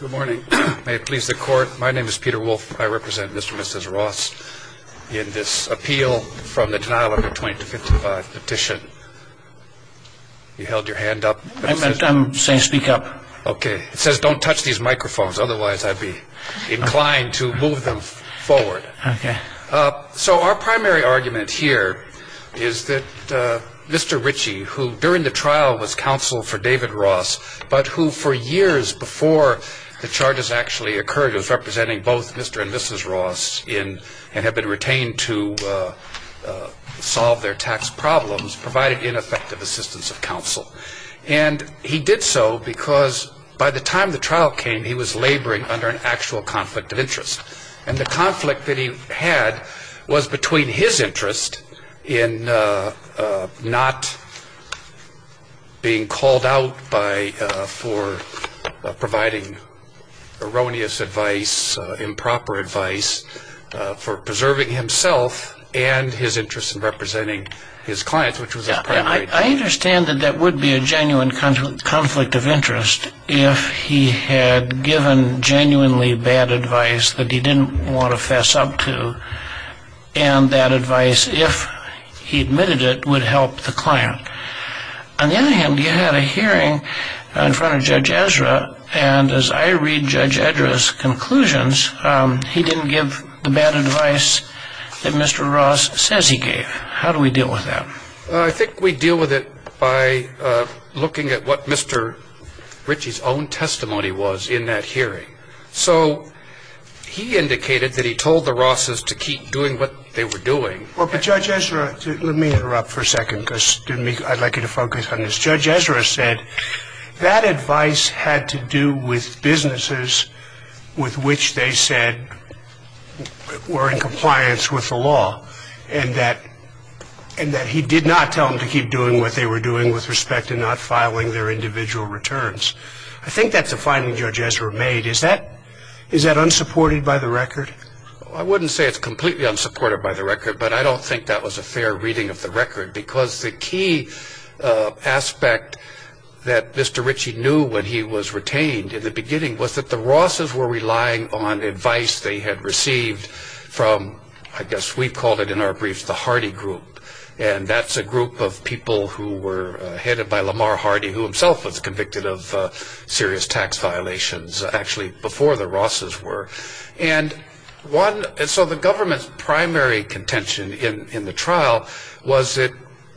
Good morning. May it please the court. My name is Peter Wolfe. I represent Mr. and Mrs. Ross in this appeal from the denial of a 2255 petition. You held your hand up? I'm saying speak up. OK. It says don't touch these microphones, otherwise I'd be inclined to move them forward. So our primary argument here is that Mr. Ritchie, who during the trial was counsel for David Ross, but who for years before the charges actually occurred was representing both Mr. and Mrs. Ross and had been retained to solve their tax problems, provided ineffective assistance of counsel. And he did so because by the time the trial came, he was laboring under an actual conflict of interest. And the conflict that he had was between his interest in not being called out for providing erroneous advice, improper advice, for preserving himself, and his interest in representing his clients, which was his primary goal. I understand that that would be a genuine conflict of interest if he had given genuinely bad advice that he didn't want to fess up to, and that advice, if he admitted it, would help the client. On the other hand, you had a hearing in front of Judge Ezra, and as I read Judge Ezra's conclusions, he didn't give the bad advice that Mr. Ross says he gave. How do we deal with that? I think we deal with it by looking at what Mr. Ritchie's own testimony was in that hearing. So he indicated that he told the Rosses to keep doing what they were doing. Well, but Judge Ezra, let me interrupt for a second because I'd like you to focus on this. I think that's a finding Judge Ezra made. Is that unsupported by the record? I wouldn't say it's completely unsupported by the record, but I don't think that was a fair reading of the record. Because the key aspect that Mr. Ritchie knew when he was retained in the beginning was that the Rosses were relying on advice they had received from, I guess we called it in our briefs, the Hardy Group. And that's a group of people who were headed by Lamar Hardy, who himself was convicted of serious tax violations, actually, before the Rosses were. And so the government's primary contention in the trial was that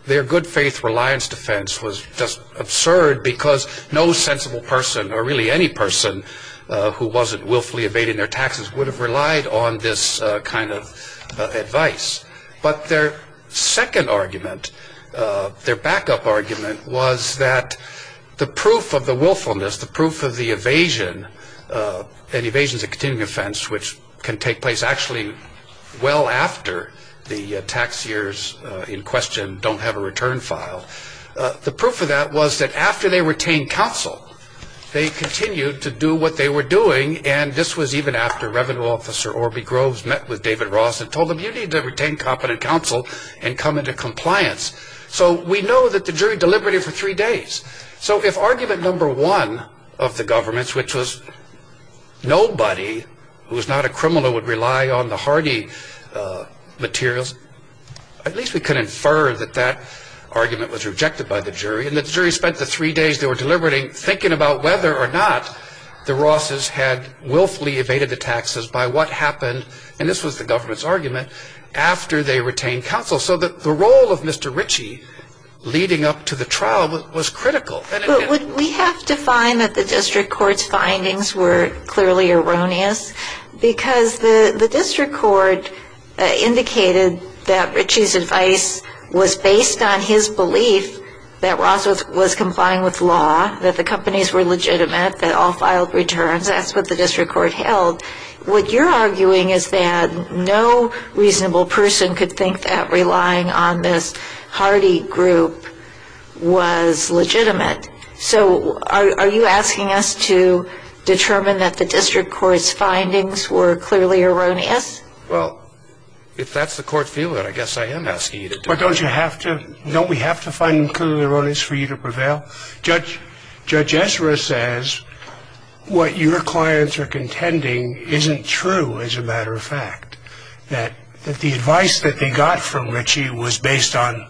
their good faith reliance defense was just absurd because no sensible person, or really any person, who wasn't willfully evading their taxes would have relied on this kind of advice. But their second argument, their backup argument, was that the proof of the willfulness, the proof of the evasion, and evasion is a continuing offense, which can take place actually well after the tax years in question don't have a return file. The proof of that was that after they retained counsel, they continued to do what they were doing. And this was even after Revenue Officer Orbie Groves met with David Ross and told him, you need to retain competent counsel and come into compliance. So we know that the jury deliberated for three days. So if argument number one of the government's, which was nobody who was not a criminal would rely on the Hardy materials, at least we can infer that that argument was rejected by the jury. And the jury spent the three days they were deliberating, thinking about whether or not the Rosses had willfully evaded the taxes by what happened, and this was the government's argument, after they retained counsel. So the role of Mr. Ritchie leading up to the trial was critical. But would we have to find that the district court's findings were clearly erroneous? Because the district court indicated that Ritchie's advice was based on his belief that Ross was complying with law, that the companies were legitimate, that all filed returns. That's what the district court held. What you're arguing is that no reasonable person could think that relying on this Hardy group was legitimate. So are you asking us to determine that the district court's findings were clearly erroneous? Well, if that's the court feeling, I guess I am asking you to do that. But don't you have to? Don't we have to find them clearly erroneous for you to prevail? Judge Ezra says what your clients are contending isn't true, as a matter of fact, that the advice that they got from Ritchie was based on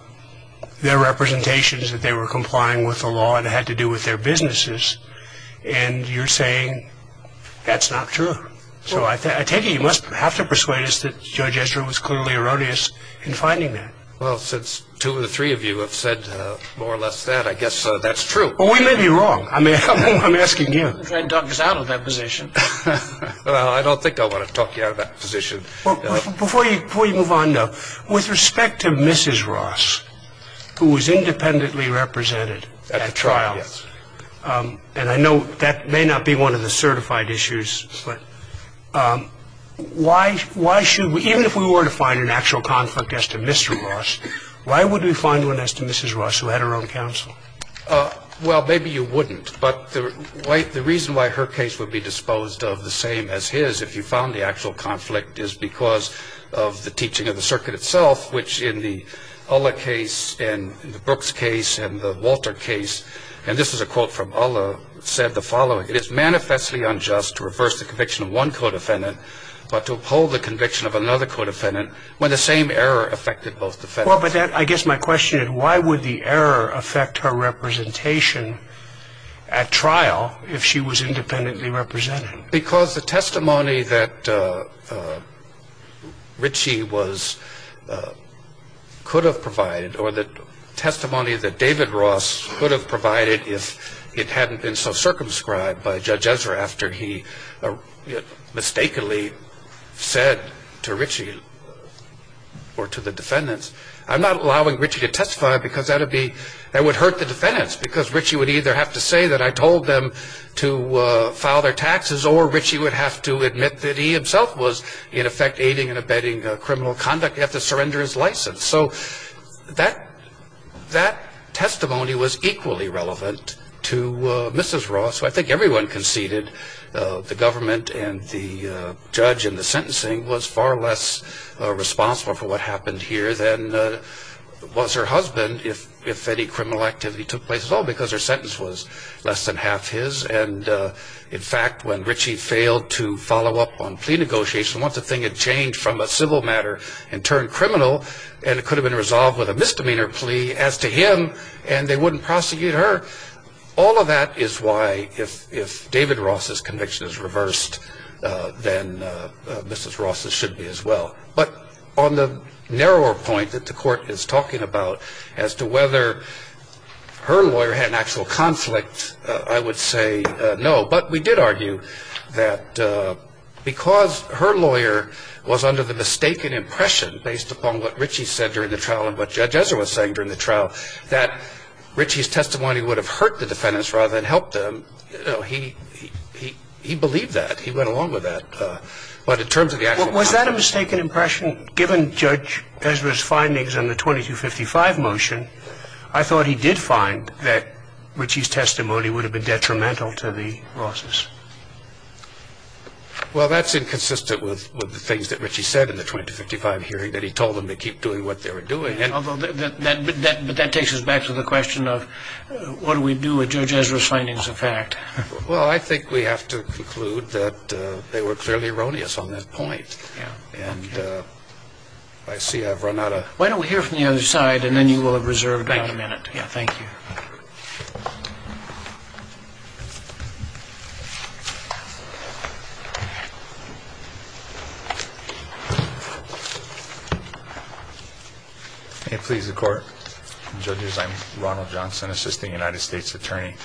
their representations that they were complying with the law and it had to do with their businesses, and you're saying that's not true. So I take it you must have to persuade us that Judge Ezra was clearly erroneous in finding that. Well, since two or three of you have said more or less that, I guess that's true. Well, we may be wrong. I mean, I'm asking you. I'm trying to talk us out of that position. Well, I don't think I want to talk you out of that position. Before you move on, though, with respect to Mrs. Ross, who was independently represented at the trial, and I know that may not be one of the certified issues, but why should we, even if we were to find an actual conflict as to Mr. Ross, why would we find one as to Mrs. Ross, who had her own counsel? Well, maybe you wouldn't, but the reason why her case would be disposed of the same as his, if you found the actual conflict, is because of the teaching of the circuit itself, which in the Ullah case and the Brooks case and the Walter case, and this is a quote from Ullah, said the following, it is manifestly unjust to reverse the conviction of one co-defendant, but to uphold the conviction of another co-defendant when the same error affected both defendants. Well, but I guess my question is why would the error affect her representation at trial if she was independently represented? Because the testimony that Richie could have provided, or the testimony that David Ross could have provided if it hadn't been so circumscribed by Judge Ezra after he mistakenly said to Richie or to the defendants, I'm not allowing Richie to testify because that would hurt the defendants, because Richie would either have to say that I told them to file their taxes or Richie would have to admit that he himself was in effect aiding and abetting criminal conduct. He'd have to surrender his license. So that testimony was equally relevant to Mrs. Ross. So I think everyone conceded the government and the judge and the sentencing was far less responsible for what happened here than was her husband if any criminal activity took place at all because her sentence was less than half his. And, in fact, when Richie failed to follow up on plea negotiations, once the thing had changed from a civil matter and turned criminal and it could have been resolved with a misdemeanor plea as to him and they wouldn't prosecute her, all of that is why if David Ross's conviction is reversed, then Mrs. Ross's should be as well. But on the narrower point that the Court is talking about as to whether her lawyer had an actual conflict, I would say no. But we did argue that because her lawyer was under the mistaken impression based upon what Richie said during the trial and what Judge Ezra was saying during the trial, that Richie's testimony would have hurt the defendants rather than helped them. He believed that. He went along with that. But in terms of the actual conflict. Was that a mistaken impression? Given Judge Ezra's findings in the 2255 motion, I thought he did find that Richie's testimony would have been detrimental to the Rosses. Well, that's inconsistent with the things that Richie said in the 2255 hearing, that he told them to keep doing what they were doing. But that takes us back to the question of what do we do with Judge Ezra's findings of fact? Well, I think we have to conclude that they were clearly erroneous on that point. Yeah. And I see I've run out of... Why don't we hear from the other side and then you will have reserved about a minute. Thank you. Yeah, thank you. May it please the Court. Judges, I'm Ronald Johnson, Assistant United States Attorney.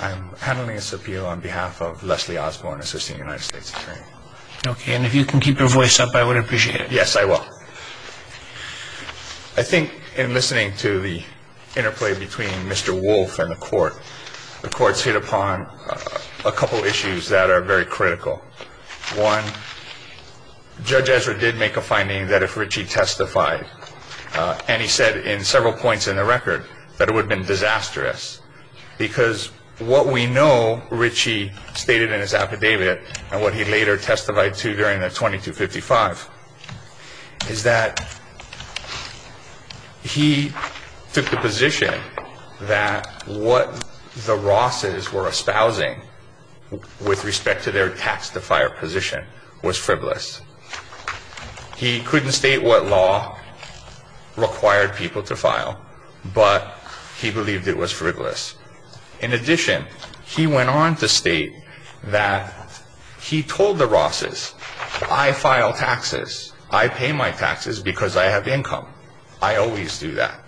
I'm handling this appeal on behalf of Leslie Osborne, Assistant United States Attorney. Okay, and if you can keep your voice up, I would appreciate it. Yes, I will. I think in listening to the interplay between Mr. Wolf and the Court, the Court's hit upon a couple issues that are very critical. One, Judge Ezra did make a finding that if Richie testified, and he said in several points in the record, that it would have been disastrous. Because what we know Richie stated in his affidavit and what he later testified to during the 2255, is that he took the position that what the Rosses were espousing with respect to their tax-to-fire position was frivolous. He couldn't state what law required people to file, but he believed it was frivolous. In addition, he went on to state that he told the Rosses, I file taxes, I pay my taxes because I have income. I always do that.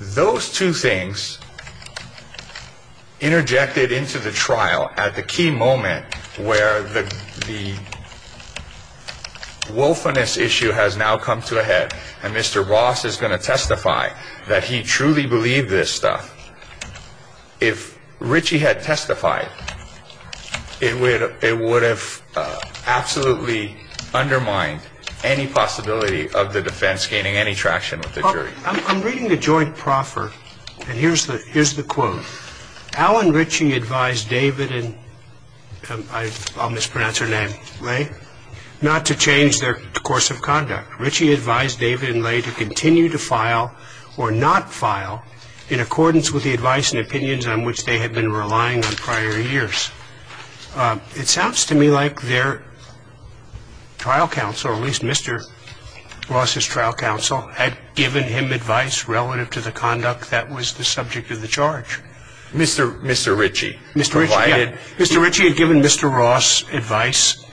Those two things interjected into the trial at the key moment where the wolfiness issue has now come to a head and Mr. Ross is going to testify that he truly believed this stuff. If Richie had testified, it would have absolutely undermined any possibility of the defense gaining any traction with the jury. I'm reading the joint proffer, and here's the quote. Alan Richie advised David and, I'll mispronounce her name, Lay, not to change their course of conduct. Richie advised David and Lay to continue to file or not file in accordance with the advice and opinions on which they had been relying on prior years. It sounds to me like their trial counsel, or at least Mr. Ross's trial counsel, had given him advice relative to the conduct that was the subject of the charge. Mr. Richie. Mr. Richie had given Mr. Ross advice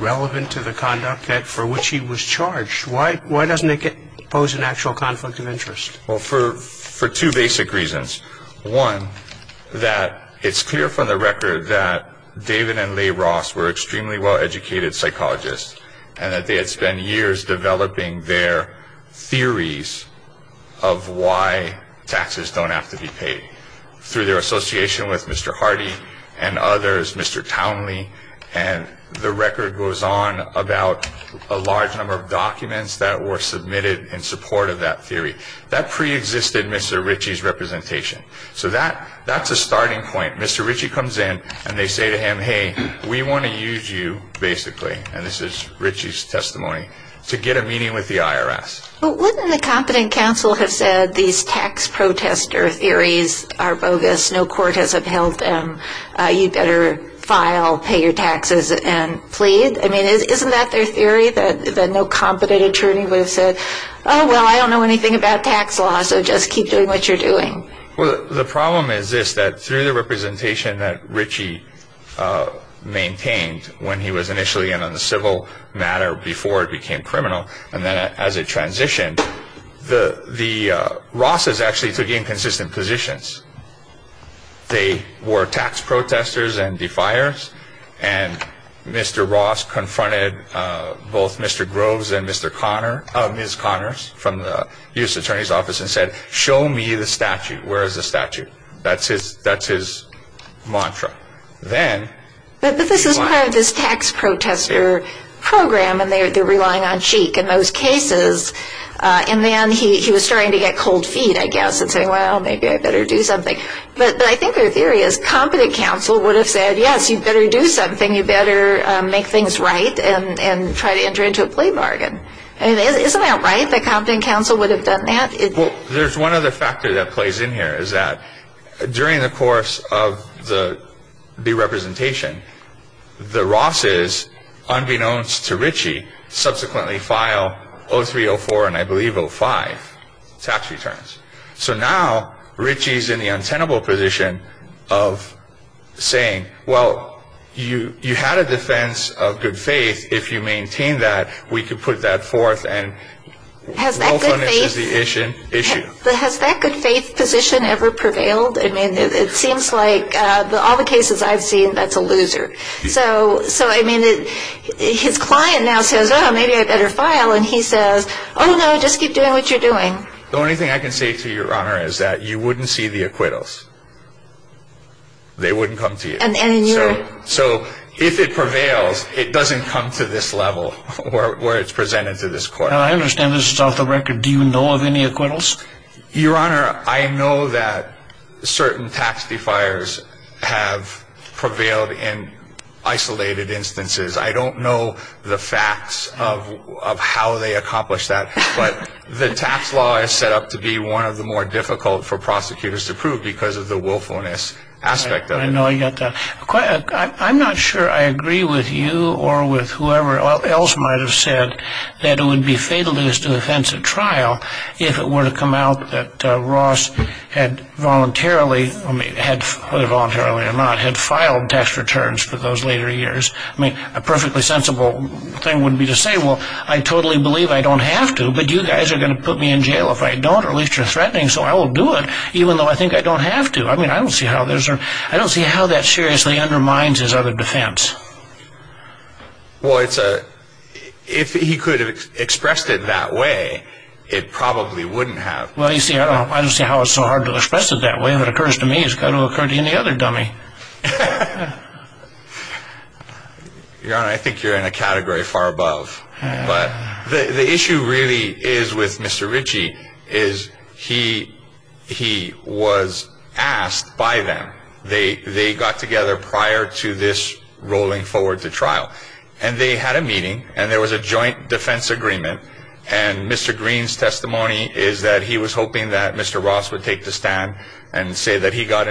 relevant to the conduct for which he was charged. Why doesn't it pose an actual conflict of interest? Well, for two basic reasons. One, that it's clear from the record that David and Lay Ross were extremely well-educated psychologists, and that they had spent years developing their theories of why taxes don't have to be paid. Through their association with Mr. Hardy and others, Mr. Townley, and the record goes on about a large number of documents that were submitted in support of that theory. That preexisted Mr. Richie's representation. So that's a starting point. Mr. Richie comes in and they say to him, hey, we want to use you, basically, and this is Richie's testimony, to get a meeting with the IRS. But wouldn't the competent counsel have said these tax protester theories are bogus, no court has upheld them, you'd better file, pay your taxes, and plead? I mean, isn't that their theory, that no competent attorney would have said, oh, well, I don't know anything about tax law, so just keep doing what you're doing? Well, the problem is this, that through the representation that Richie maintained when he was initially in on the civil matter before it became criminal, and then as it transitioned, the Ross's actually took inconsistent positions. They were tax protesters and defiers, and Mr. Ross confronted both Mr. Groves and Ms. Connors from the U.S. Attorney's Office and said, show me the statute. Where is the statute? That's his mantra. But this is part of this tax protester program, and they're relying on Sheik in most cases, and then he was starting to get cold feet, I guess, and say, well, maybe I better do something. But I think their theory is competent counsel would have said, yes, you'd better do something, you'd better make things right and try to enter into a plea bargain. Isn't that right, that competent counsel would have done that? Well, there's one other factor that plays in here, is that during the course of the representation, the Ross's, unbeknownst to Richie, subsequently file 03, 04, and I believe 05 tax returns. So now Richie's in the untenable position of saying, well, you had a defense of good faith. If you maintain that, we can put that forth, and we'll finish the issue. Has that good faith position ever prevailed? I mean, it seems like all the cases I've seen, that's a loser. So, I mean, his client now says, oh, maybe I better file, and he says, oh, no, just keep doing what you're doing. The only thing I can say to you, Your Honor, is that you wouldn't see the acquittals. They wouldn't come to you. So if it prevails, it doesn't come to this level where it's presented to this court. I understand this is off the record. Do you know of any acquittals? Your Honor, I know that certain tax defiers have prevailed in isolated instances. I don't know the facts of how they accomplished that. But the tax law is set up to be one of the more difficult for prosecutors to prove because of the willfulness aspect of it. I know you got that. I'm not sure I agree with you or with whoever else might have said that it would be fatal to this defense at trial if it were to come out that Ross had voluntarily, whether voluntarily or not, had filed tax returns for those later years. I mean, a perfectly sensible thing would be to say, well, I totally believe I don't have to, but you guys are going to put me in jail if I don't, or at least you're threatening, so I will do it, even though I think I don't have to. I mean, I don't see how that seriously undermines his other defense. Well, if he could have expressed it that way, it probably wouldn't have. Well, you see, I don't see how it's so hard to express it that way. If it occurs to me, it's got to occur to any other dummy. Your Honor, I think you're in a category far above. But the issue really is with Mr. Ritchie is he was asked by them. They got together prior to this rolling forward to trial. And they had a meeting, and there was a joint defense agreement, and Mr. Green's testimony is that he was hoping that Mr. Ross would take the stand and say that he got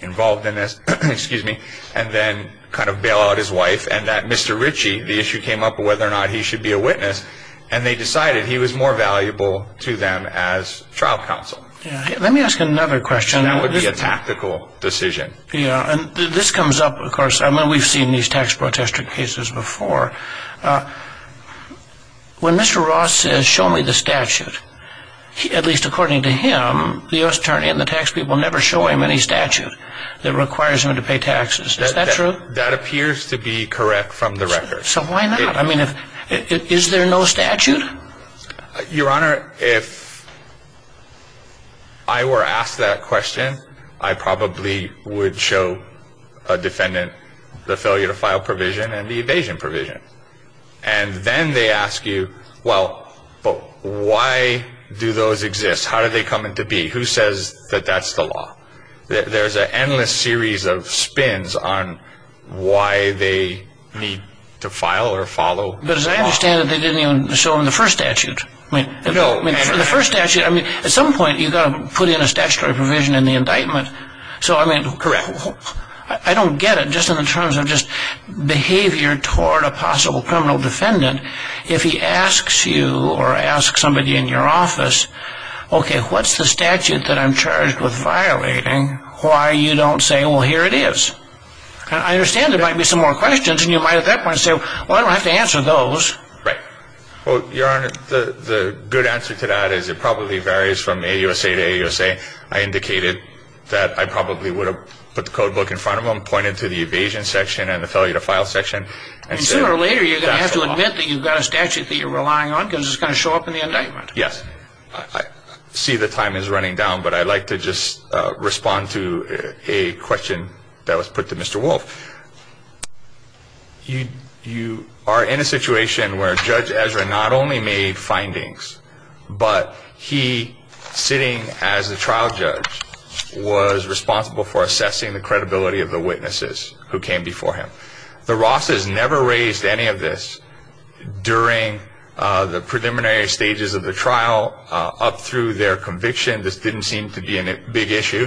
involved in this, and then kind of bail out his wife, and that Mr. Ritchie, the issue came up whether or not he should be a witness, and they decided he was more valuable to them as trial counsel. Let me ask another question. That would be a tactical decision. Yeah, and this comes up, of course. I mean, we've seen these tax protester cases before. When Mr. Ross says, show me the statute, at least according to him, the U.S. Attorney and the tax people never show him any statute that requires him to pay taxes. Is that true? That appears to be correct from the record. So why not? I mean, is there no statute? Your Honor, if I were asked that question, I probably would show a defendant the failure to file provision and the evasion provision. And then they ask you, well, but why do those exist? How do they come into being? Who says that that's the law? There's an endless series of spins on why they need to file or follow the law. But as I understand it, they didn't even show him the first statute. No. The first statute, I mean, at some point you've got to put in a statutory provision in the indictment. Correct. I don't get it. Just in terms of just behavior toward a possible criminal defendant, if he asks you or asks somebody in your office, okay, what's the statute that I'm charged with violating, why you don't say, well, here it is. I understand there might be some more questions, and you might at that point say, well, I don't have to answer those. Right. Well, Your Honor, the good answer to that is it probably varies from AUSA to AUSA. I indicated that I probably would have put the codebook in front of him, pointed to the evasion section and the failure to file section. And sooner or later you're going to have to admit that you've got a statute that you're relying on because it's going to show up in the indictment. Yes. I see the time is running down, but I'd like to just respond to a question that was put to Mr. Wolf. You are in a situation where Judge Ezra not only made findings, but he, sitting as the trial judge, was responsible for assessing the credibility of the witnesses who came before him. The Rosses never raised any of this during the preliminary stages of the trial up through their conviction. This didn't seem to be a big issue,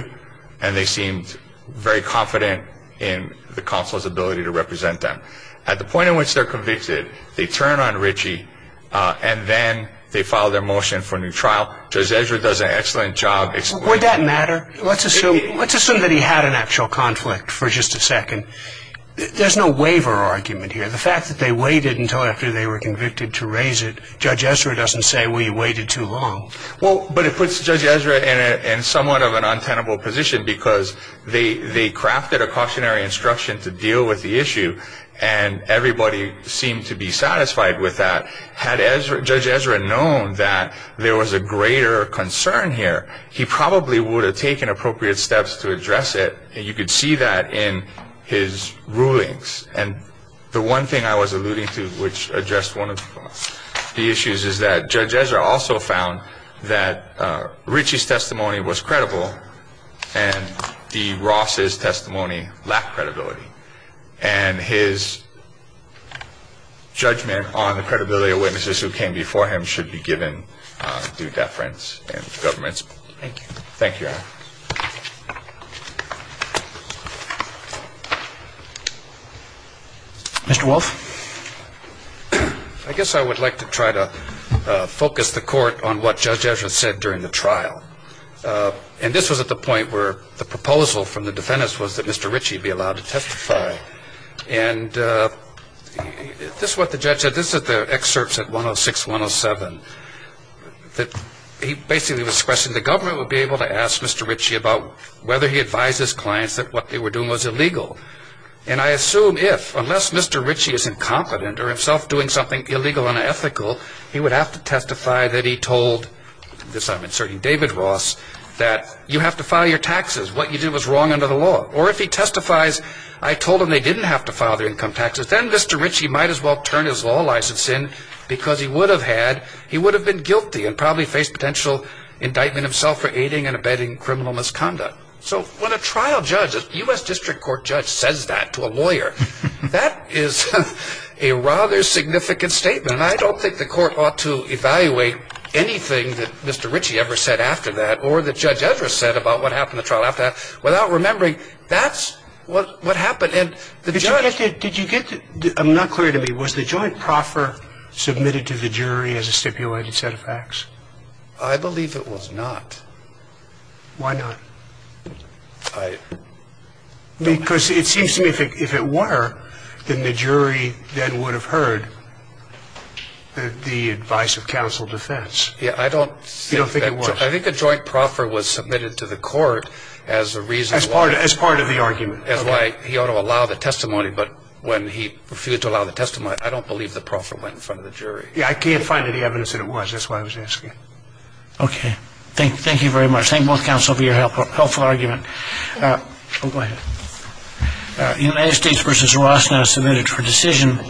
and they seemed very confident in the counsel's ability to represent them. At the point at which they're convicted, they turn on Ritchie, and then they file their motion for a new trial. Judge Ezra does an excellent job. Would that matter? Let's assume that he had an actual conflict for just a second. There's no waiver argument here. The fact that they waited until after they were convicted to raise it, Judge Ezra doesn't say, well, you waited too long. Well, but it puts Judge Ezra in somewhat of an untenable position because they crafted a cautionary instruction to deal with the issue, and everybody seemed to be satisfied with that. Had Judge Ezra known that there was a greater concern here, he probably would have taken appropriate steps to address it, and you could see that in his rulings. And the one thing I was alluding to which addressed one of the issues is that Judge Ezra also found that Ritchie's testimony was credible and D. Ross' testimony lacked credibility, and his judgment on the credibility of witnesses who came before him should be given due deference in government. Thank you. Thank you, Your Honor. Mr. Wolf? I guess I would like to try to focus the court on what Judge Ezra said during the trial. And this was at the point where the proposal from the defendants was that Mr. Ritchie be allowed to testify. And this is what the judge said. This is the excerpts at 106-107. He basically was expressing the government would be able to ask Mr. Ritchie about whether he advised his clients that what they were doing was illegal. And I assume if, unless Mr. Ritchie is incompetent or himself doing something illegal and unethical, he would have to testify that he told, this I'm inserting David Ross, that you have to file your taxes. What you did was wrong under the law. Or if he testifies, I told them they didn't have to file their income taxes, then Mr. Ritchie might as well turn his law license in because he would have been guilty and probably faced potential indictment himself for aiding and abetting criminal misconduct. So when a trial judge, a U.S. District Court judge says that to a lawyer, that is a rather significant statement. And I don't think the court ought to evaluate anything that Mr. Ritchie ever said after that or that Judge Ezra said about what happened in the trial after that without remembering that's what happened. And the judge – Did you get – I'm not clear to me. Was the joint proffer submitted to the jury as a stipulated set of facts? I believe it was not. Why not? I – Because it seems to me if it were, then the jury then would have heard the advice of counsel defense. Yeah, I don't – You don't think it was? I think a joint proffer was submitted to the court as a reason why – As part of the argument. As why he ought to allow the testimony, but when he refused to allow the testimony, I don't believe the proffer went in front of the jury. Yeah, I can't find any evidence that it was. That's why I was asking. Okay. Thank you very much. Thank both counsel for your helpful argument. Go ahead. United States v. Ross now submitted for decision.